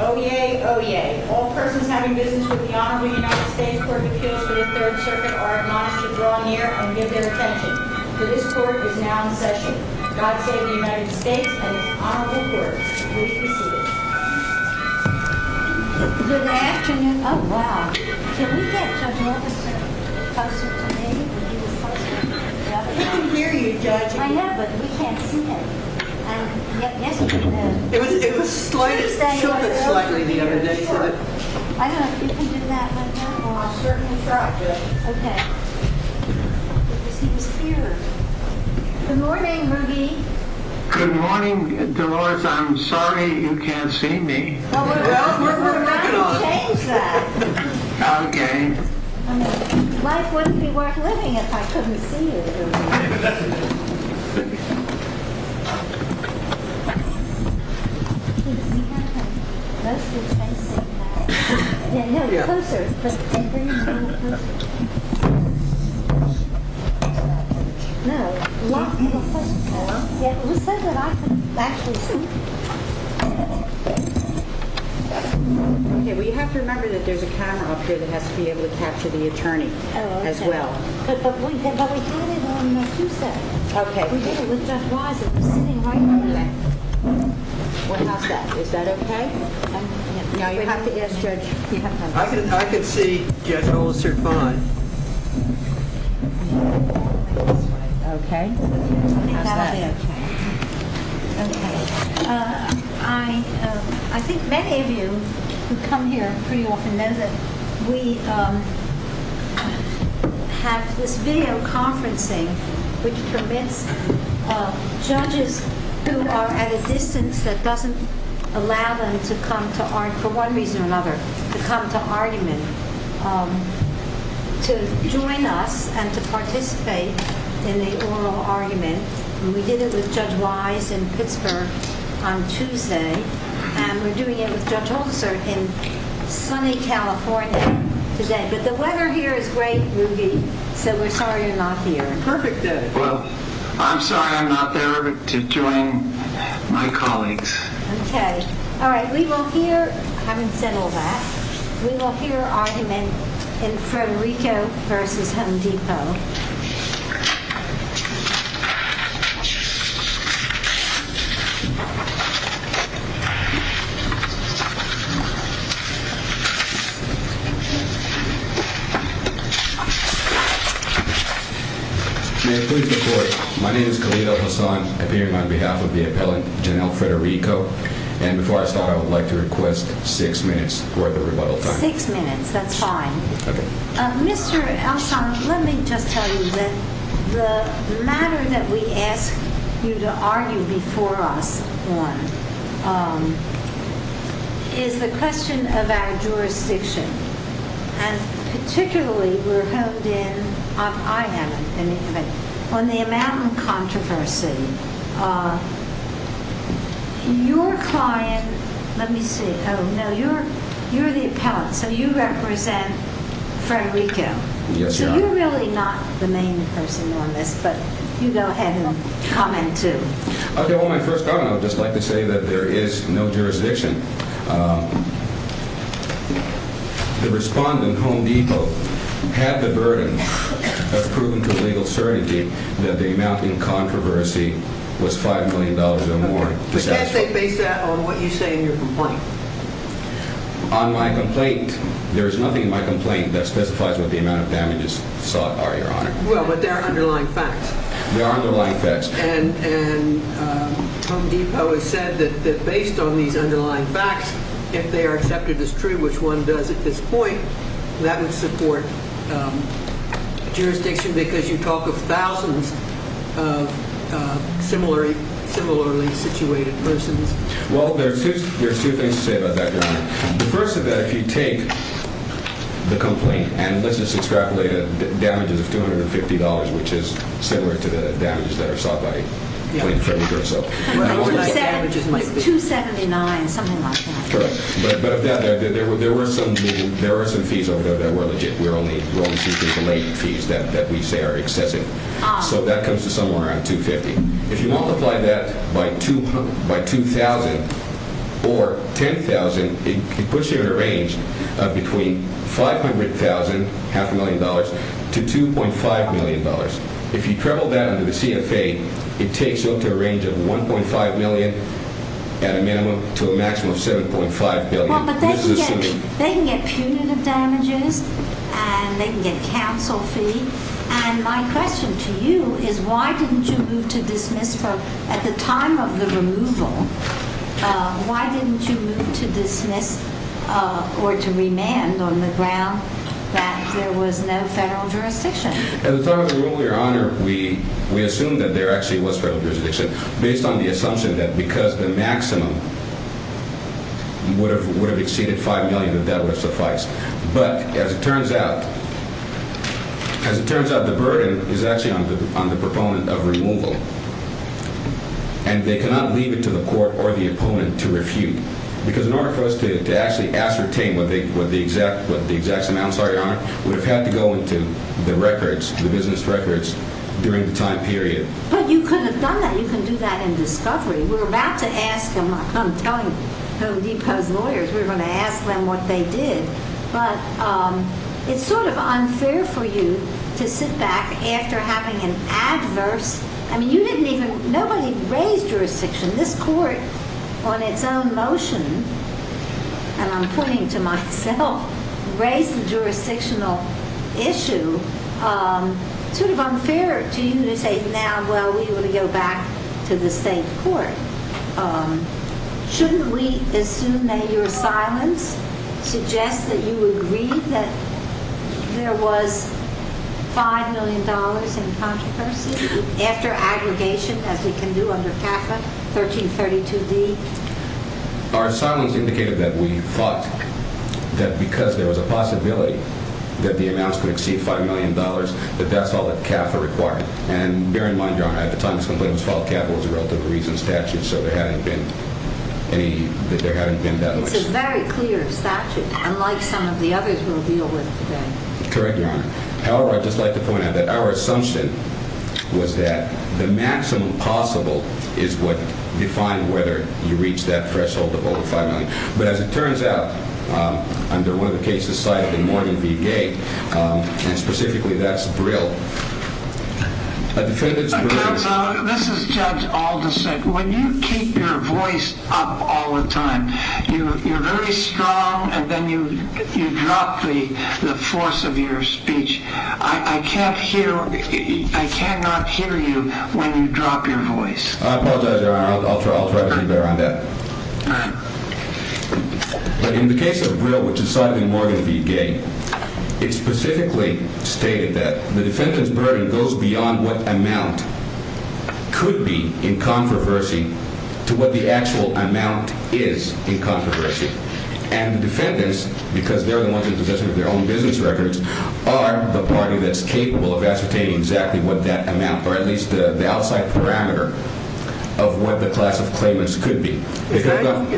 Oyez! Oyez! All persons having business with the Honorable United States Court of Appeals for the Third Circuit are admonished to draw near and give their attention, for this court is now in session. God save the United States and its Honorable Courts. Please be seated. Good afternoon. Oh, wow. Can we get Judge Mortimer closer to me? I can hear you, Judge. I know, but we can't see it. It was shifted slightly the other day, but... I don't know if you can do that right now. Well, I'll certainly try. Okay. He was here. Good morning, Ruggie. Good morning, Dolores. I'm sorry you can't see me. Well, we're going to make it up. Why don't you change that? Okay. I mean, life wouldn't be worth living if I couldn't see you. Okay, we have to remember that there's a camera up here that has to be able to capture the attorney as well. But we had it on Tuesday. Okay. We did it with Judge Wise. It was sitting right on my lap. Well, how's that? Is that okay? Now, you have to ask Judge... I can see Judge Olsen fine. Okay. How's that? That'll be okay. Okay. I think many of you who come here pretty often know that we have this video conferencing, which permits judges who are at a distance that doesn't allow them to come to argument, for one reason or another, to come to argument, to join us and to participate in the oral argument. And we did it with Judge Wise in Pittsburgh on Tuesday. And we're doing it with Judge Olsen in sunny California today. But the weather here is great, Rudy, so we're sorry you're not here. Perfect day. Well, I'm sorry I'm not there to join my colleagues. Okay. All right. We will hear... I haven't said all that. We will hear argument in Frederico v. Home Depot. May I please report? My name is Khalil Al-Hassan, appearing on behalf of the appellant, Janelle Frederico. And before I start, I would like to request six minutes for the rebuttal time. Six minutes. That's fine. Okay. Mr. Al-Hassan, let me just tell you that the matter that we ask you to argue before us on is the question of our jurisdiction. And particularly we're held in... I have an argument. On the amount of controversy, your client... Let me see. Oh, no. You're the appellant, so you represent Frederico. Yes, Your Honor. So you're really not the main person on this, but you go ahead and comment too. Okay. Well, my first argument, I would just like to say that there is no jurisdiction. The respondent, Home Depot, had the burden of proving to legal certainty that the amount in controversy was $5 million or more. But can't they base that on what you say in your complaint? On my complaint, there is nothing in my complaint that specifies what the amount of damages sought are, Your Honor. Well, but there are underlying facts. There are underlying facts. And Home Depot has said that based on these underlying facts, if they are accepted as true, which one does at this point, that would support jurisdiction because you talk of thousands of similarly situated persons. Well, there are two things to say about that, Your Honor. The first is that if you take the complaint and let's just extrapolate it, there are damages of $250, which is similar to the damages that are sought by plain and fair legal itself. $279, something like that. Correct. But there were some fees over there that were legit. We're only seeking related fees that we say are excessive. So that comes to somewhere around $250. If you multiply that by $2,000 or $10,000, it puts you in a range of between $500,000, half a million dollars, to $2.5 million. If you treble that under the CFA, it takes you up to a range of $1.5 million at a minimum to a maximum of $7.5 billion. Well, but they can get punitive damages and they can get counsel fee. And my question to you is why didn't you move to dismiss for at the time of the removal? Why didn't you move to dismiss or to remand on the ground that there was no federal jurisdiction? At the time of the rule, Your Honor, we assumed that there actually was federal jurisdiction, based on the assumption that because the maximum would have exceeded $5 million that that would have sufficed. But as it turns out, the burden is actually on the proponent of removal. And they cannot leave it to the court or the opponent to refute. Because in order for us to actually ascertain what the exact amounts are, Your Honor, we would have had to go into the records, the business records, during the time period. But you could have done that. You can do that in discovery. We're about to ask them. I'm telling Home Depot's lawyers we're going to ask them what they did. But it's sort of unfair for you to sit back after having an adverse – I mean, you didn't even – nobody raised jurisdiction. This court, on its own motion, and I'm pointing to myself, raised the jurisdictional issue. It's sort of unfair to you to say now, well, we want to go back to the state court. Shouldn't we assume that your silence suggests that you agree that there was $5 million in controversy after aggregation, as we can do under CAFA, 1332D? Our silence indicated that we thought that because there was a possibility that the amounts could exceed $5 million, that that's all that CAFA required. And bear in mind, Your Honor, at the time this complaint was filed, CAFA was a relatively recent statute, so there hadn't been that much. It's a very clear statute, unlike some of the others we'll deal with today. Correct, Your Honor. However, I'd just like to point out that our assumption was that the maximum possible is what defined whether you reached that threshold of over $5 million. But as it turns out, under one of the cases cited in Morgan v. Gate, and specifically that's Brill, a defendant's – Counsel, this is Judge Alderson. When you keep your voice up all the time, you're very strong, and then you drop the force of your speech. I cannot hear you when you drop your voice. I apologize, Your Honor. I'll try to be better on that. All right. But in the case of Brill, which is cited in Morgan v. Gate, it specifically stated that the defendant's burden goes beyond what amount could be in controversy to what the actual amount is in controversy. And the defendants, because they're the ones in possession of their own business records, are the party that's capable of ascertaining exactly what that amount, or at least the outside parameter of what the class of claimants could be. Is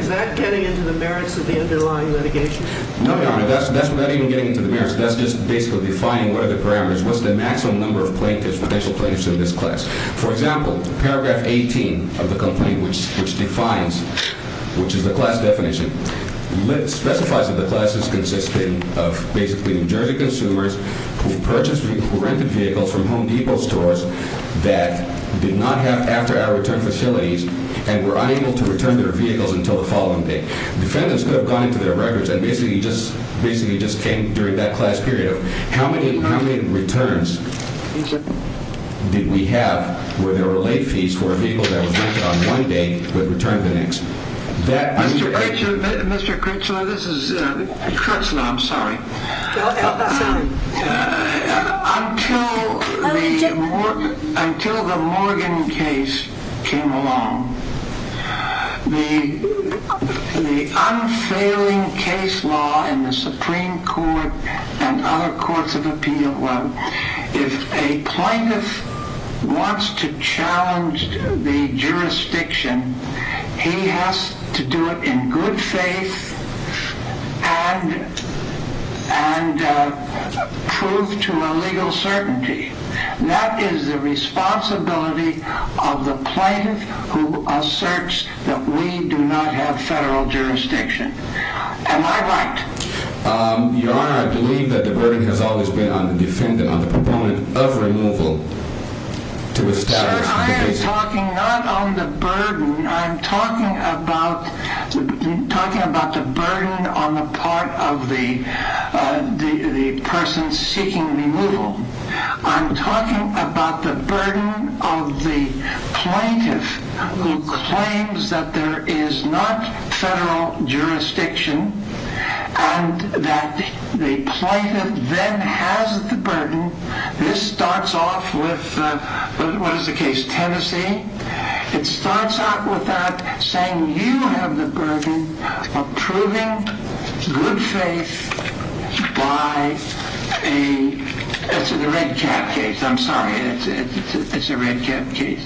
that getting into the merits of the underlying litigation? No, Your Honor. That's not even getting into the merits. That's just basically defining what are the parameters, what's the maximum number of potential plaintiffs in this class. For example, paragraph 18 of the complaint, which defines, which is the class definition, specifies that the class is consisting of basically New Jersey consumers who purchased or rented vehicles from Home Depot stores that did not have after-hour return facilities and were unable to return their vehicles until the following day. Defendants could have gone into their records and basically just came during that class period. How many returns did we have where there were late fees for a vehicle that was rented on one day but returned the next? Mr. Critchlow, this is Critchlow. I'm sorry. Until the Morgan case came along, the unfailing case law in the Supreme Court and other courts of appeal, if a plaintiff wants to challenge the jurisdiction, he has to do it in good faith and prove to a legal certainty. That is the responsibility of the plaintiff who asserts that we do not have federal jurisdiction. Am I right? Your Honor, I believe that the burden has always been on the defendant, on the proponent of removal to establish the basis. Sir, I am talking not on the burden. I'm talking about the burden on the part of the person seeking removal. I'm talking about the burden of the plaintiff who claims that there is not federal jurisdiction and that the plaintiff then has the burden. This starts off with, what is the case, Tennessee? It starts off with that saying you have the burden of proving good faith by a, it's a red cap case, I'm sorry, it's a red cap case.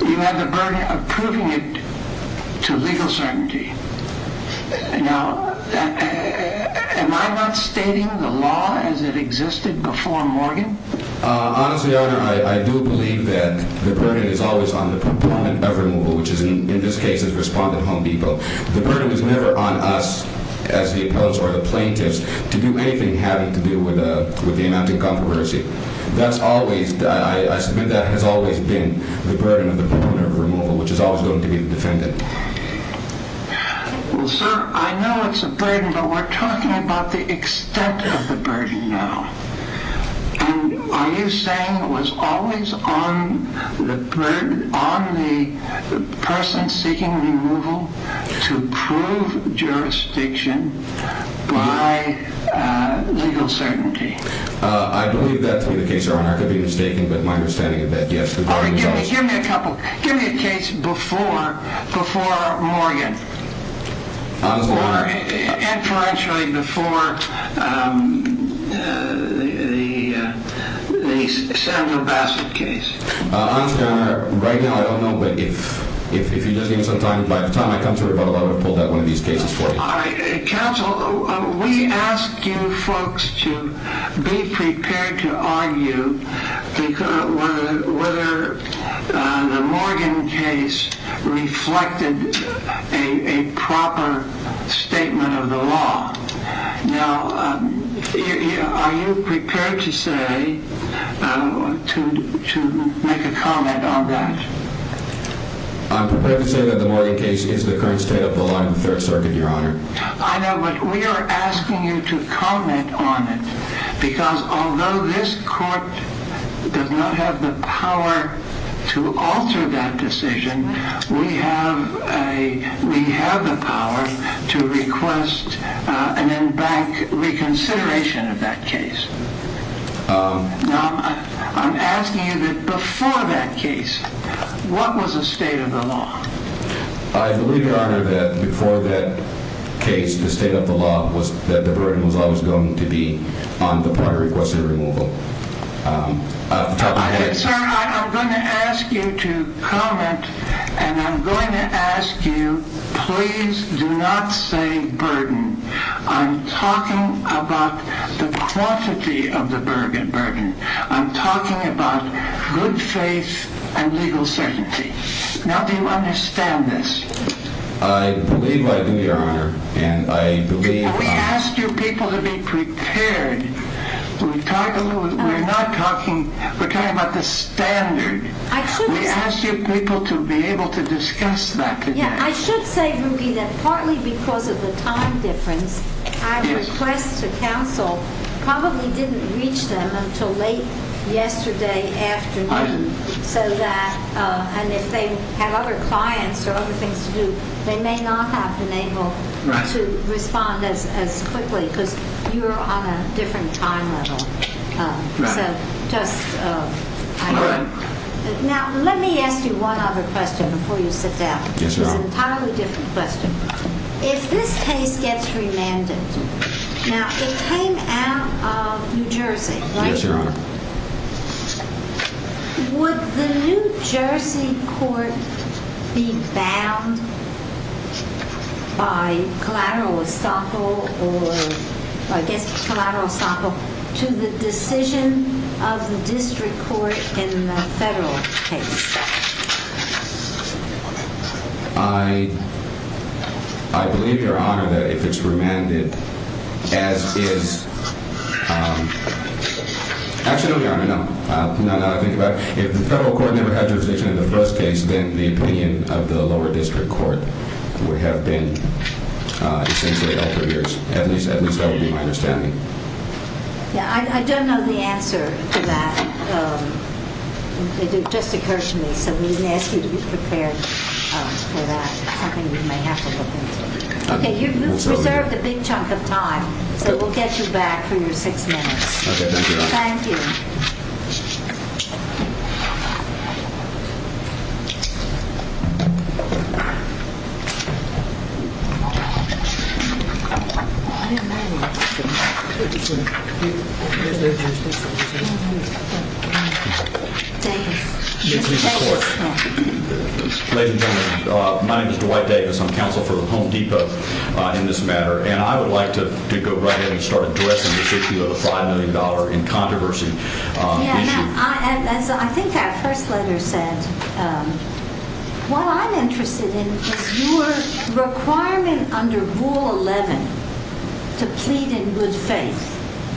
You have the burden of proving it to legal certainty. Now, am I not stating the law as it existed before Morgan? Honestly, Your Honor, I do believe that the burden is always on the proponent of removal, which is in this case is Respondent Home Depot. The burden is never on us as the appeals or the plaintiffs to do anything having to do with the amount of controversy. That's always, I submit that has always been the burden of the proponent of removal, which is always going to be the defendant. Well, sir, I know it's a burden, but we're talking about the extent of the burden now. And are you saying it was always on the person seeking removal to prove jurisdiction by legal certainty? I believe that to be the case, Your Honor. I could be mistaken, but my understanding is that yes. Give me a couple, give me a case before Morgan. Honestly, Your Honor. Inferentially before the Samuel Bassett case. Honestly, Your Honor, right now I don't know, but if you just give me some time, by the time I come to rebuttal, I would have pulled out one of these cases for you. Counsel, we ask you folks to be prepared to argue whether the Morgan case reflected a proper statement of the law. Now, are you prepared to say, to make a comment on that? I'm prepared to say that the Morgan case is the current state of the law in the Third Circuit, Your Honor. I know, but we are asking you to comment on it, because although this court does not have the power to alter that decision, we have the power to request an in-bank reconsideration of that case. Now, I'm asking you that before that case, what was the state of the law? I believe, Your Honor, that before that case, the state of the law was that the burden was always going to be on the party requesting removal. I'm going to ask you to comment, and I'm going to ask you, please do not say burden. I'm talking about the quantity of the burden. I'm talking about good faith and legal certainty. Now, do you understand this? I believe I do, Your Honor, and I believe... We ask you people to be prepared. We're talking about the standard. We ask you people to be able to discuss that. I should say, Ruki, that partly because of the time difference, my request to counsel probably didn't reach them until late yesterday afternoon, so that if they had other clients or other things to do, they may not have been able to respond as quickly, because you're on a different time level. So just... Now, let me ask you one other question before you sit down. Yes, Your Honor. It's an entirely different question. If this case gets remanded, now, it came out of New Jersey, right? Yes, Your Honor. Would the New Jersey court be bound by collateral estoppel, or I guess collateral estoppel, to the decision of the district court in the federal case? I believe, Your Honor, that if it's remanded as is... Actually, no, Your Honor, no. Now that I think about it, if the federal court never had jurisdiction in the first case, then the opinion of the lower district court would have been essentially altered. At least that would be my understanding. I don't know the answer to that. It just occurred to me, so we may ask you to be prepared for that, something we may have to look into. Okay, you've reserved a big chunk of time, so we'll get you back for your six minutes. Okay, thank you, Your Honor. Thank you. Thank you. Ladies and gentlemen, my name is Dwight Davis. I'm counsel for Home Depot in this matter, and I would like to go right ahead and start addressing this issue of the $5 million in controversy. Yeah, Matt, as I think our first letter said, what I'm interested in is your requirement under Rule 11 to plead in good faith.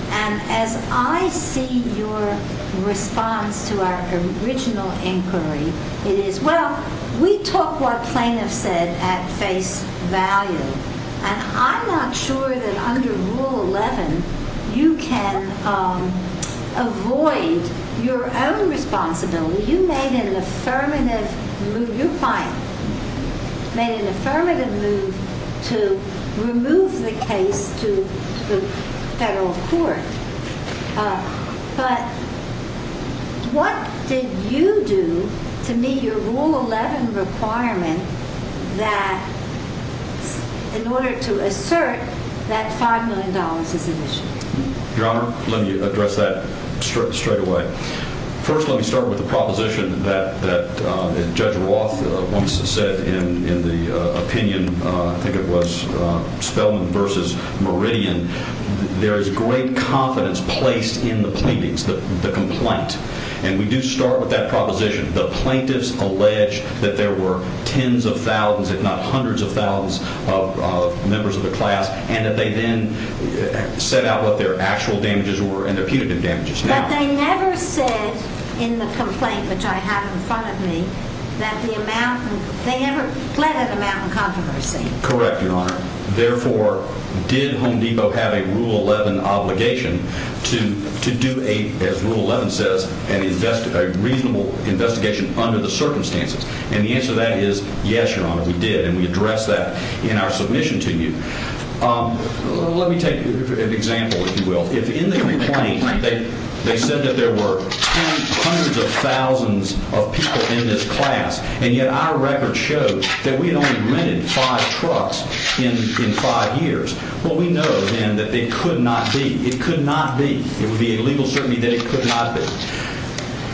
And as I see your response to our original inquiry, it is, well, we took what plaintiffs said at face value, and I'm not sure that under Rule 11 you can avoid your own responsibility. You made an affirmative move. Your client made an affirmative move to remove the case to the federal court. But what did you do to meet your Rule 11 requirement that in order to assert that $5 million is an issue? Your Honor, let me address that straight away. First, let me start with the proposition that Judge Roth once said in the opinion, I think it was Spellman v. Meridian. There is great confidence placed in the pleadings, the complaint. And we do start with that proposition. The plaintiffs alleged that there were tens of thousands, if not hundreds of thousands of members of the class, and that they then set out what their actual damages were and their punitive damages now. But they never said in the complaint, which I have in front of me, that the amount, they never pledged an amount in controversy. Correct, Your Honor. Therefore, did Home Depot have a Rule 11 obligation to do, as Rule 11 says, a reasonable investigation under the circumstances? And the answer to that is yes, Your Honor, we did. And we addressed that in our submission to you. Let me take an example, if you will. In the complaint, they said that there were tens, hundreds of thousands of people in this class, and yet our record shows that we had only rented five trucks in five years. Well, we know, then, that they could not be. It could not be. It would be a legal certainty that it could not be.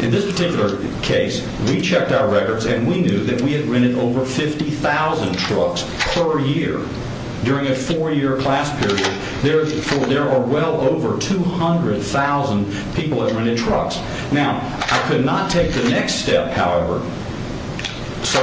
In this particular case, we checked our records, and we knew that we had rented over 50,000 trucks per year during a four-year class period. There are well over 200,000 people that rented trucks. Now, I could not take the next step, however. So,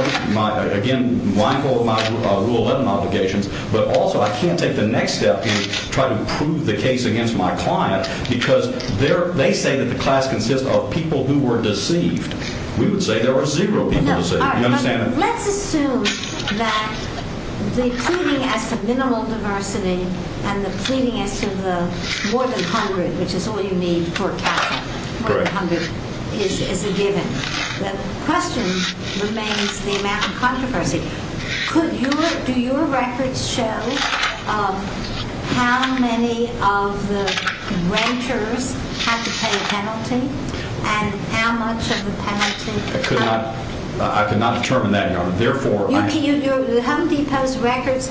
again, mindful of my Rule 11 obligations, but also I can't take the next step in trying to prove the case against my client because they say that the class consists of people who were deceived. We would say there were zero people deceived. You understand that? Let's assume that the pleading as for minimal diversity and the pleading as to the more than 100, which is all you need for capital, more than 100, is a given. The question remains the amount of controversy. Do your records show how many of the renters had to pay a penalty and how much of the penalty? I could not determine that, Your Honor. The Home Depot's records,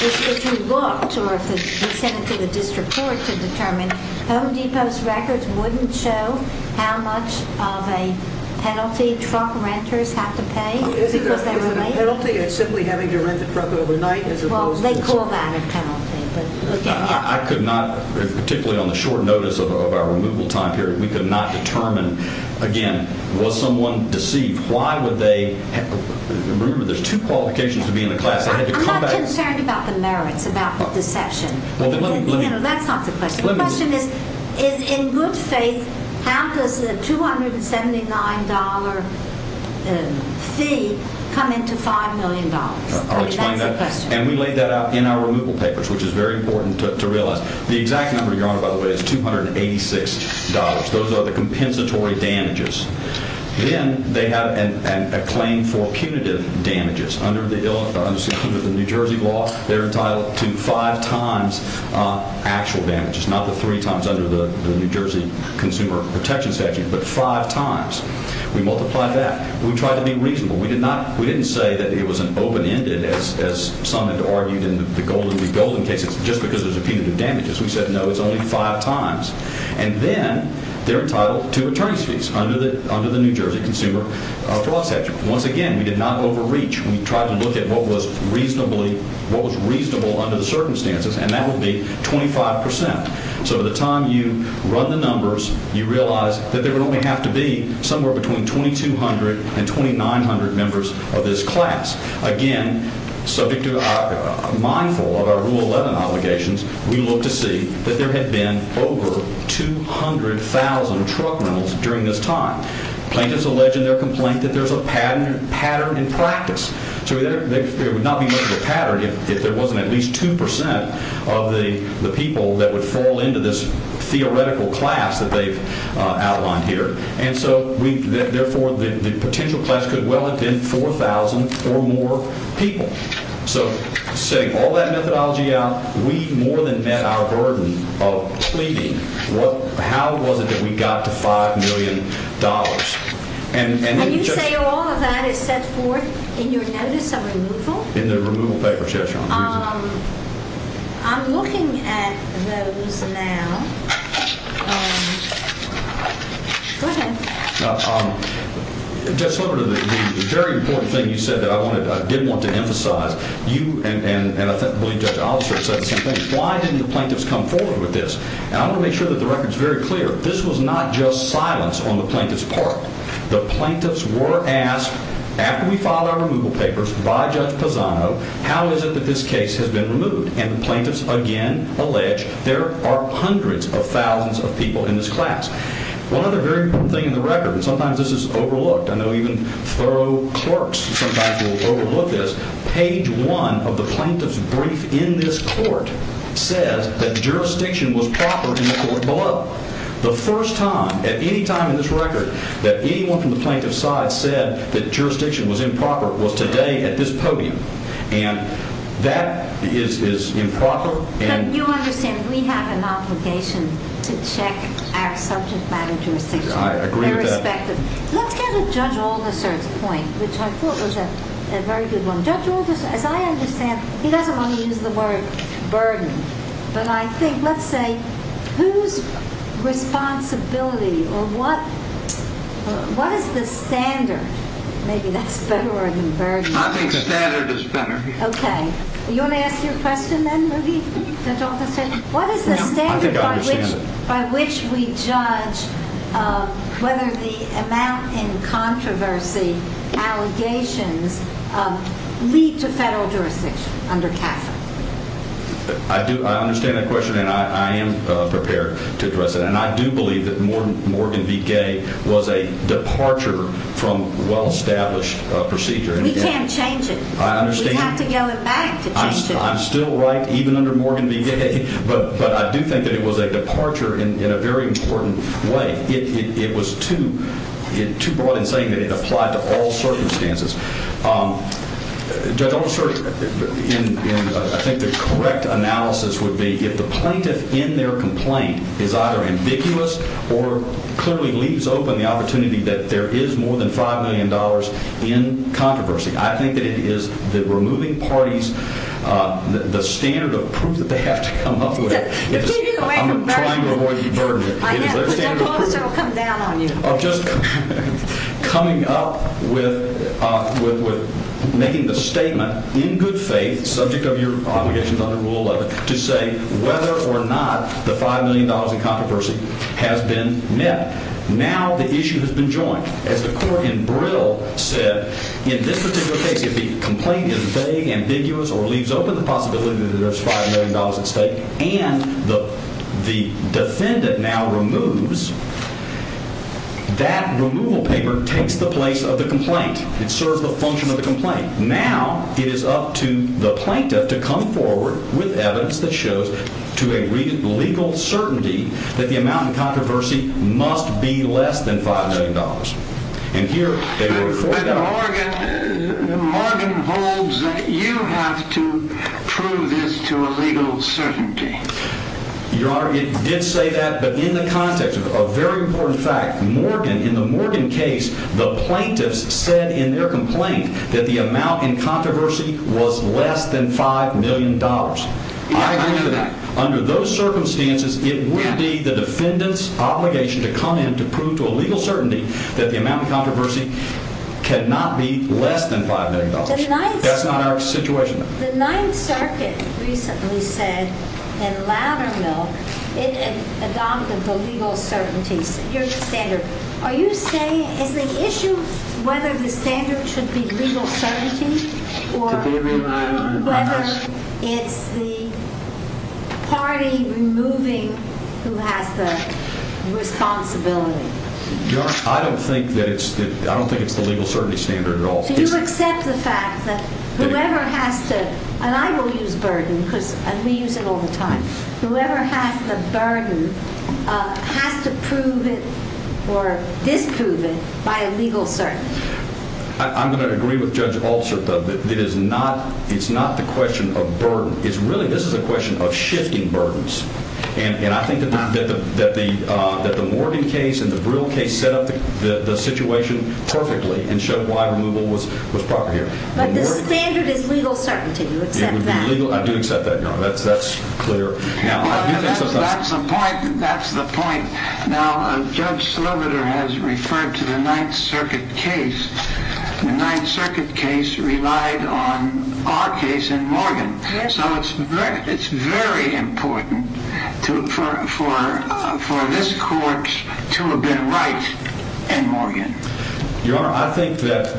if you looked or if you sent it to the district court to determine, Home Depot's records wouldn't show how much of a penalty truck renters have to pay because they were late? Is there a penalty of simply having to rent a truck overnight as opposed to... Well, they call that a penalty. I could not, particularly on the short notice of our removal time period, we could not determine, again, was someone deceived? Why would they? Remember, there's two qualifications to be in the class. I'm not concerned about the merits about the deception. That's not the question. The question is, in good faith, how does the $279 fee come into $5 million? I'll explain that. That's the question. And we laid that out in our removal papers, which is very important to realize. The exact number, Your Honor, by the way, is $286. Those are the compensatory damages. Then they have a claim for punitive damages under the New Jersey law. They're entitled to five times actual damages, not the three times under the New Jersey Consumer Protection Statute, but five times. We multiply that. We tried to be reasonable. We didn't say that it was an open-ended, as some had argued in the Golden Week Golden cases, just because there's a punitive damages. We said, no, it's only five times. And then they're entitled to attorney's fees under the New Jersey Consumer Fraud Statute. Once again, we did not overreach. We tried to look at what was reasonable under the circumstances, and that would be 25%. So by the time you run the numbers, you realize that there would only have to be somewhere between 2,200 and 2,900 members of this class. Again, mindful of our Rule 11 obligations, we looked to see that there had been over 200,000 truck rentals during this time. Plaintiffs allege in their complaint that there's a pattern in practice. So there would not be much of a pattern if there wasn't at least 2% of the people that would fall into this theoretical class that they've outlined here. And so, therefore, the potential class could well have been 4,000 or more people. So setting all that methodology out, we more than met our burden of pleading. How was it that we got to $5 million? And you say all of that is set forth in your notice of removal? In the removal papers, yes, Your Honor. I'm looking at those now. Go ahead. Now, Judge Sliver, the very important thing you said that I did want to emphasize, you and I believe Judge Oliver said the same thing, why didn't the plaintiffs come forward with this? And I want to make sure that the record's very clear. This was not just silence on the plaintiff's part. The plaintiffs were asked, after we filed our removal papers by Judge Pisano, how is it that this case has been removed? And the plaintiffs, again, allege there are hundreds of thousands of people in this class. One other very important thing in the record, and sometimes this is overlooked, I know even thorough clerks sometimes will overlook this, page 1 of the plaintiff's brief in this court says that jurisdiction was proper in the court below. The first time, at any time in this record, that anyone from the plaintiff's side said that jurisdiction was improper was today at this podium. And that is improper. But you understand we have an obligation to check our subject matter jurisdiction. I agree with that. Irrespective. Let's get at Judge Aldersert's point, which I thought was a very good one. Judge Aldersert, as I understand, he doesn't want to use the word burden, but I think, let's say, whose responsibility or what is the standard? Maybe that's better than burden. I think standard is better. Okay. You want to ask your question then, Ruby, Judge Aldersert? What is the standard by which we judge whether the amount in controversy, allegations, lead to federal jurisdiction under Catholic? I understand that question, and I am prepared to address it. And I do believe that Morgan v. Gay was a departure from well-established procedure. We can't change it. I understand. We have to go back to change it. I'm still right, even under Morgan v. Gay. But I do think that it was a departure in a very important way. It was too broad in saying that it applied to all circumstances. Judge Aldersert, I think the correct analysis would be if the plaintiff in their complaint is either ambiguous or clearly leaves open the opportunity that there is more than $5 million in controversy. I think that it is the removing parties, the standard of proof that they have to come up with. You're keeping away from burden. I'm trying to avoid burden. Judge Aldersert will come down on you. Just coming up with making the statement in good faith, subject of your obligations under Rule 11, to say whether or not the $5 million in controversy has been met. Now the issue has been joined. As the court in Brill said, in this particular case, if the complaint is vague, ambiguous, or leaves open the possibility that there's $5 million at stake and the defendant now removes, that removal paper takes the place of the complaint. It serves the function of the complaint. Now it is up to the plaintiff to come forward with evidence that shows to a legal certainty that the amount in controversy must be less than $5 million. And here they were afforded that. But Morgan holds that you have to prove this to a legal certainty. Your Honor, it did say that. But in the context of a very important fact, in the Morgan case, the plaintiffs said in their complaint that the amount in controversy was less than $5 million. I agree with that. Under those circumstances, it would be the defendant's obligation to come in to prove to a legal certainty that the amount in controversy cannot be less than $5 million. That's not our situation. The Ninth Circuit recently said in Loudermill, it adopted the legal certainty standard. Are you saying, is the issue whether the standard should be legal certainty or whether it's the party removing who has the responsibility? Your Honor, I don't think it's the legal certainty standard at all. So you accept the fact that whoever has to, and I will use burden because we use it all the time, whoever has the burden has to prove it or disprove it by a legal certainty? I'm going to agree with Judge Altshuler that it's not the question of burden. Really, this is a question of shifting burdens. And I think that the Morgan case and the Brill case set up the situation perfectly and showed why removal was proper here. But the standard is legal certainty. Do you accept that? I do accept that, Your Honor. That's clear. That's the point. Now, Judge Slobeder has referred to the Ninth Circuit case. The Ninth Circuit case relied on our case in Morgan. So it's very important for this court to have been right in Morgan. Your Honor, I think that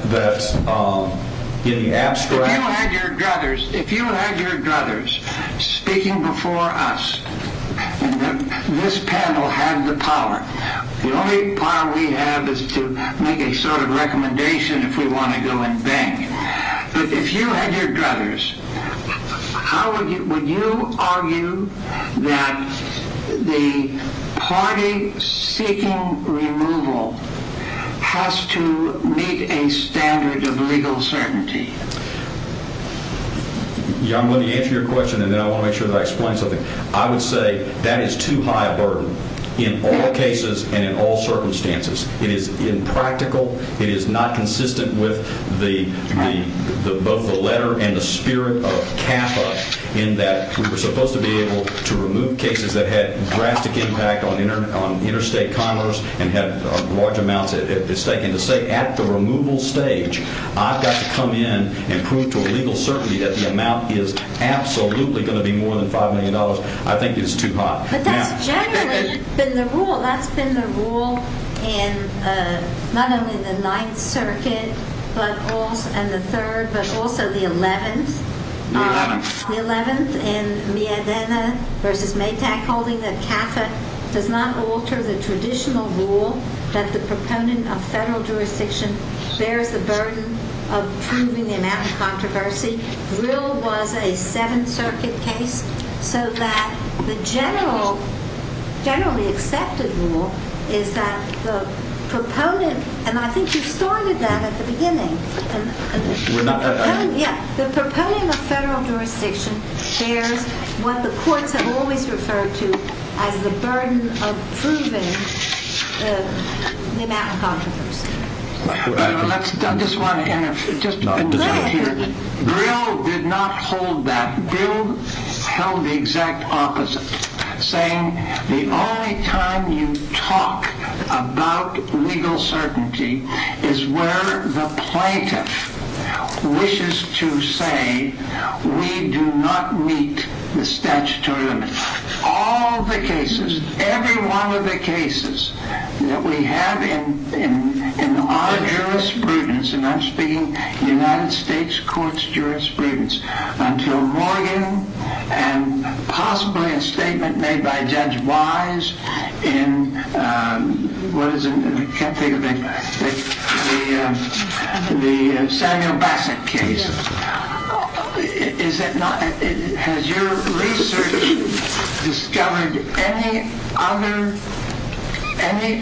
in the abstract... If you had your druthers speaking before us and this panel had the power, the only power we have is to make a sort of recommendation if we want to go and bang. But if you had your druthers, how would you argue that the party seeking removal has to meet a standard of legal certainty? Your Honor, let me answer your question, and then I want to make sure that I explain something. I would say that is too high a burden in all cases and in all circumstances. It is impractical. It is not consistent with both the letter and the spirit of CAFA in that we were supposed to be able to remove cases that had drastic impact on interstate commerce and had large amounts at stake. And to say at the removal stage, I've got to come in and prove to a legal certainty that the amount is absolutely going to be more than $5 million, I think is too high. But that's generally been the rule. That's been the rule not only in the Ninth Circuit and the Third, but also the Eleventh. The Eleventh. It was mentioned in Miedena v. Maytack holding that CAFA does not alter the traditional rule that the proponent of federal jurisdiction bears the burden of proving the amount of controversy. Drill was a Seventh Circuit case. So that the generally accepted rule is that the proponent, and I think you started that at the beginning. The proponent of federal jurisdiction bears what the courts have always referred to as the burden of proving the amount of controversy. Drill did not hold that. Drill held the exact opposite, saying the only time you talk about legal certainty is where the plaintiff wishes to say we do not meet the statutory limit. All the cases, every one of the cases that we have in our jurisprudence, and I'm speaking United States Courts jurisprudence, until Morgan and possibly a statement made by Judge Wise in the Samuel Bassett case. Has your research discovered any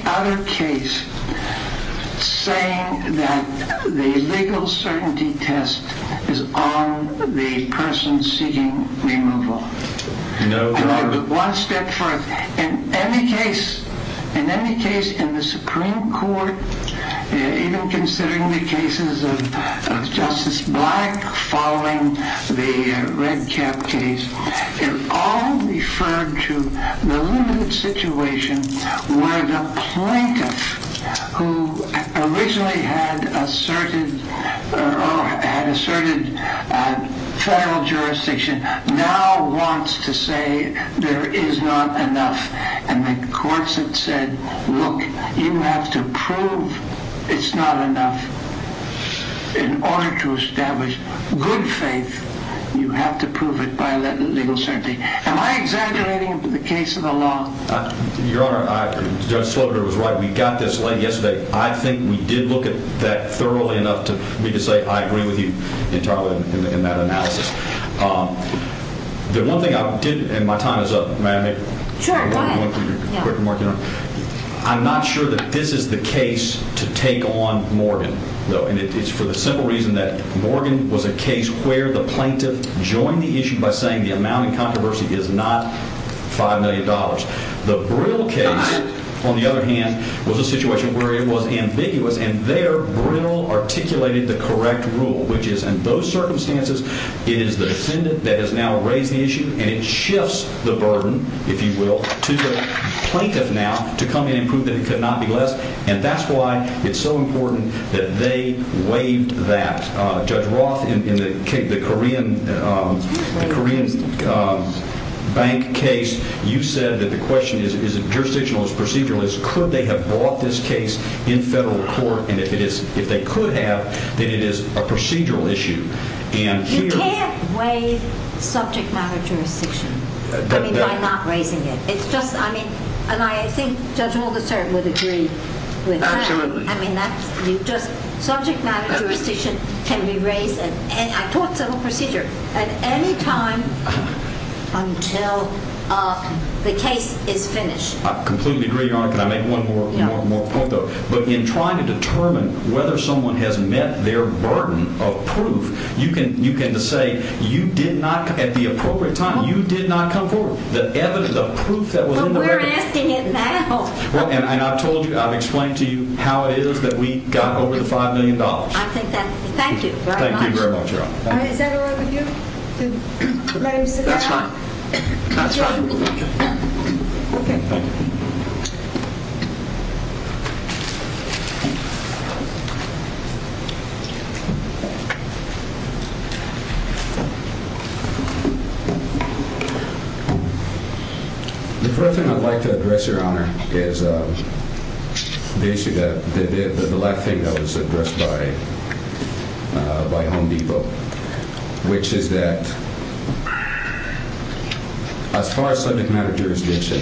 other case saying that the legal certainty test is on the person seeking removal? One step further, in any case in the Supreme Court, even considering the cases of Justice Black following the Red Cap case, it all referred to the limited situation where the plaintiff, who originally had asserted federal jurisdiction, now wants to say there is not enough. And the courts have said, look, you have to prove it's not enough. In order to establish good faith, you have to prove it by legal certainty. Am I exaggerating the case of the law? Your Honor, Judge Slaughter was right. We got this late yesterday. I think we did look at that thoroughly enough for me to say I agree with you entirely in that analysis. The one thing I did, and my time is up. May I make one quick remark, Your Honor? I'm not sure that this is the case to take on Morgan, though. And it's for the simple reason that Morgan was a case where the plaintiff joined the issue by saying the amount in controversy is not $5 million. The Brill case, on the other hand, was a situation where it was ambiguous, and there Brill articulated the correct rule, which is in those circumstances, it is the defendant that has now raised the issue, and it shifts the burden, if you will, to the plaintiff now to come in and prove that it could not be less. And that's why it's so important that they waived that. Judge Roth, in the Korean bank case, you said that the question is jurisdictional, it's procedural. It's could they have brought this case in federal court, and if they could have, then it is a procedural issue. You can't waive subject matter jurisdiction by not raising it. It's just, I mean, and I think Judge Holder, sir, would agree with that. Absolutely. I mean, subject matter jurisdiction can be raised, and I taught civil procedure, at any time until the case is finished. I completely agree, Your Honor. Can I make one more point, though? But in trying to determine whether someone has met their burden of proof, you can just say you did not, at the appropriate time, you did not come forward. The evidence, the proof that was in the record. But we're asking it now. Well, and I've told you, I've explained to you how it is that we got over the $5 million. I think that's, thank you very much. Thank you very much, Your Honor. Is that all right with you, to let him sit there? That's fine. That's fine. Okay. Thank you. Thank you. The first thing I'd like to address, Your Honor, is the issue that, the last thing that was addressed by Home Depot, which is that as far as subject matter jurisdiction,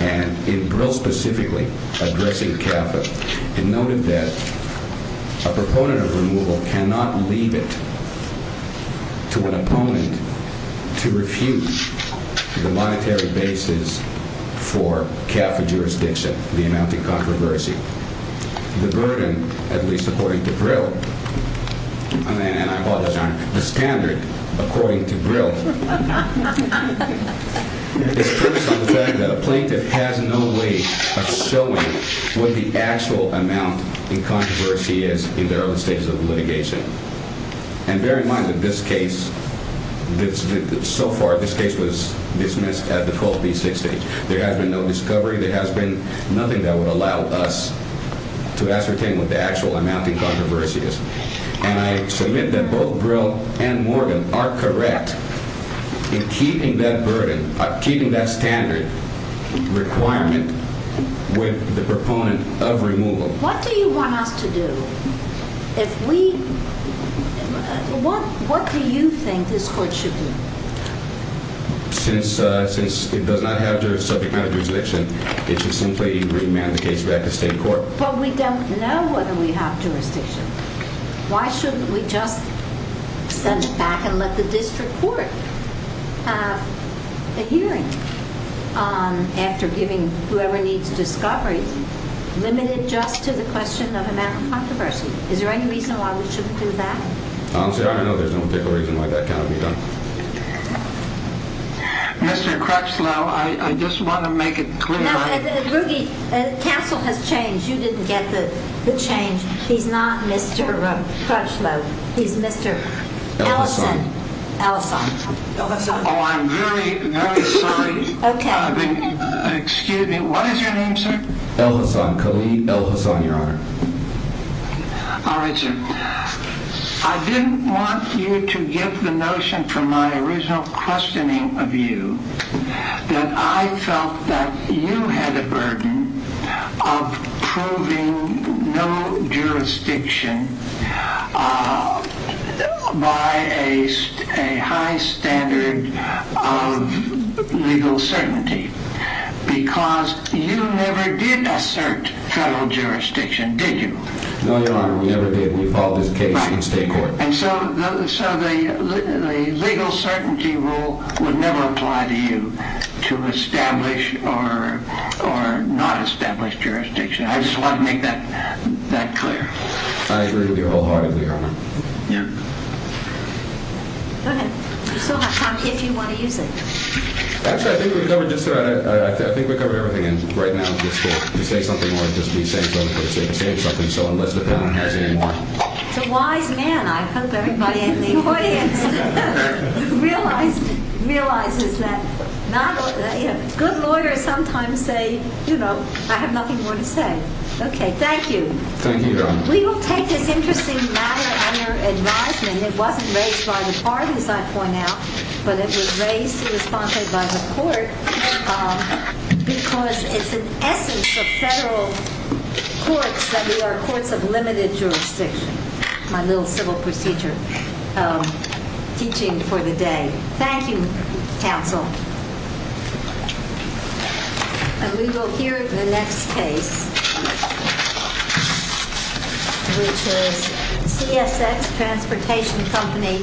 and in Brill specifically, addressing CAFA, it noted that a proponent of removal cannot leave it to an opponent to refuse the monetary basis for CAFA jurisdiction, the amount in controversy. The burden, at least according to Brill, and I apologize, Your Honor, the standard, according to Brill, is based on the fact that a plaintiff has no way of showing what the actual amount in controversy is in their own stages of litigation. And bear in mind that this case, so far, this case was dismissed at the 12B6 stage. There has been no discovery. There has been nothing that would allow us to ascertain what the actual amount in controversy is. And I submit that both Brill and Morgan are correct in keeping that burden, keeping that standard requirement with the proponent of removal. What do you want us to do? If we, what do you think this court should do? Since it does not have jurisdiction, it should simply remand the case back to state court. But we don't know whether we have jurisdiction. Why shouldn't we just send it back and let the district court have a hearing after giving whoever needs discovery, limited just to the question of amount in controversy? Is there any reason why we shouldn't do that? Honestly, I don't know there's no particular reason why that cannot be done. Mr. Crutchlow, I just want to make it clear. Now, Ruge, counsel has changed. You didn't get the change. He's not Mr. Crutchlow. He's Mr. Ellison. Ellison. Oh, I'm very, very sorry. Okay. Excuse me. What is your name, sir? Ellison, Colleen Ellison, Your Honor. All right, sir. I didn't want you to get the notion from my original questioning of you that I felt that you had a burden of proving no jurisdiction by a high standard of legal certainty because you never did assert federal jurisdiction, did you? No, Your Honor, we never did. We followed this case in state court. And so the legal certainty rule would never apply to you to establish or not establish jurisdiction. I just want to make that clear. I agree with you wholeheartedly, Your Honor. Yeah. Go ahead. You still have time if you want to use it. Actually, I think we covered just about it. I think we covered everything. And right now it's for you to say something or just be saying something so unless the defendant has any more. He's a wise man. I hope everybody in the audience realizes that. Good lawyers sometimes say, you know, I have nothing more to say. Okay, thank you. Thank you, Your Honor. We will take this interesting matter under advisement. It wasn't raised by the parties, I point out, but it was raised and responded by the court because it's an essence of federal courts that we are courts of limited jurisdiction, my little civil procedure teaching for the day. Thank you, counsel. And we will hear the next case, which is CSX Transportation Company v. Novoloff.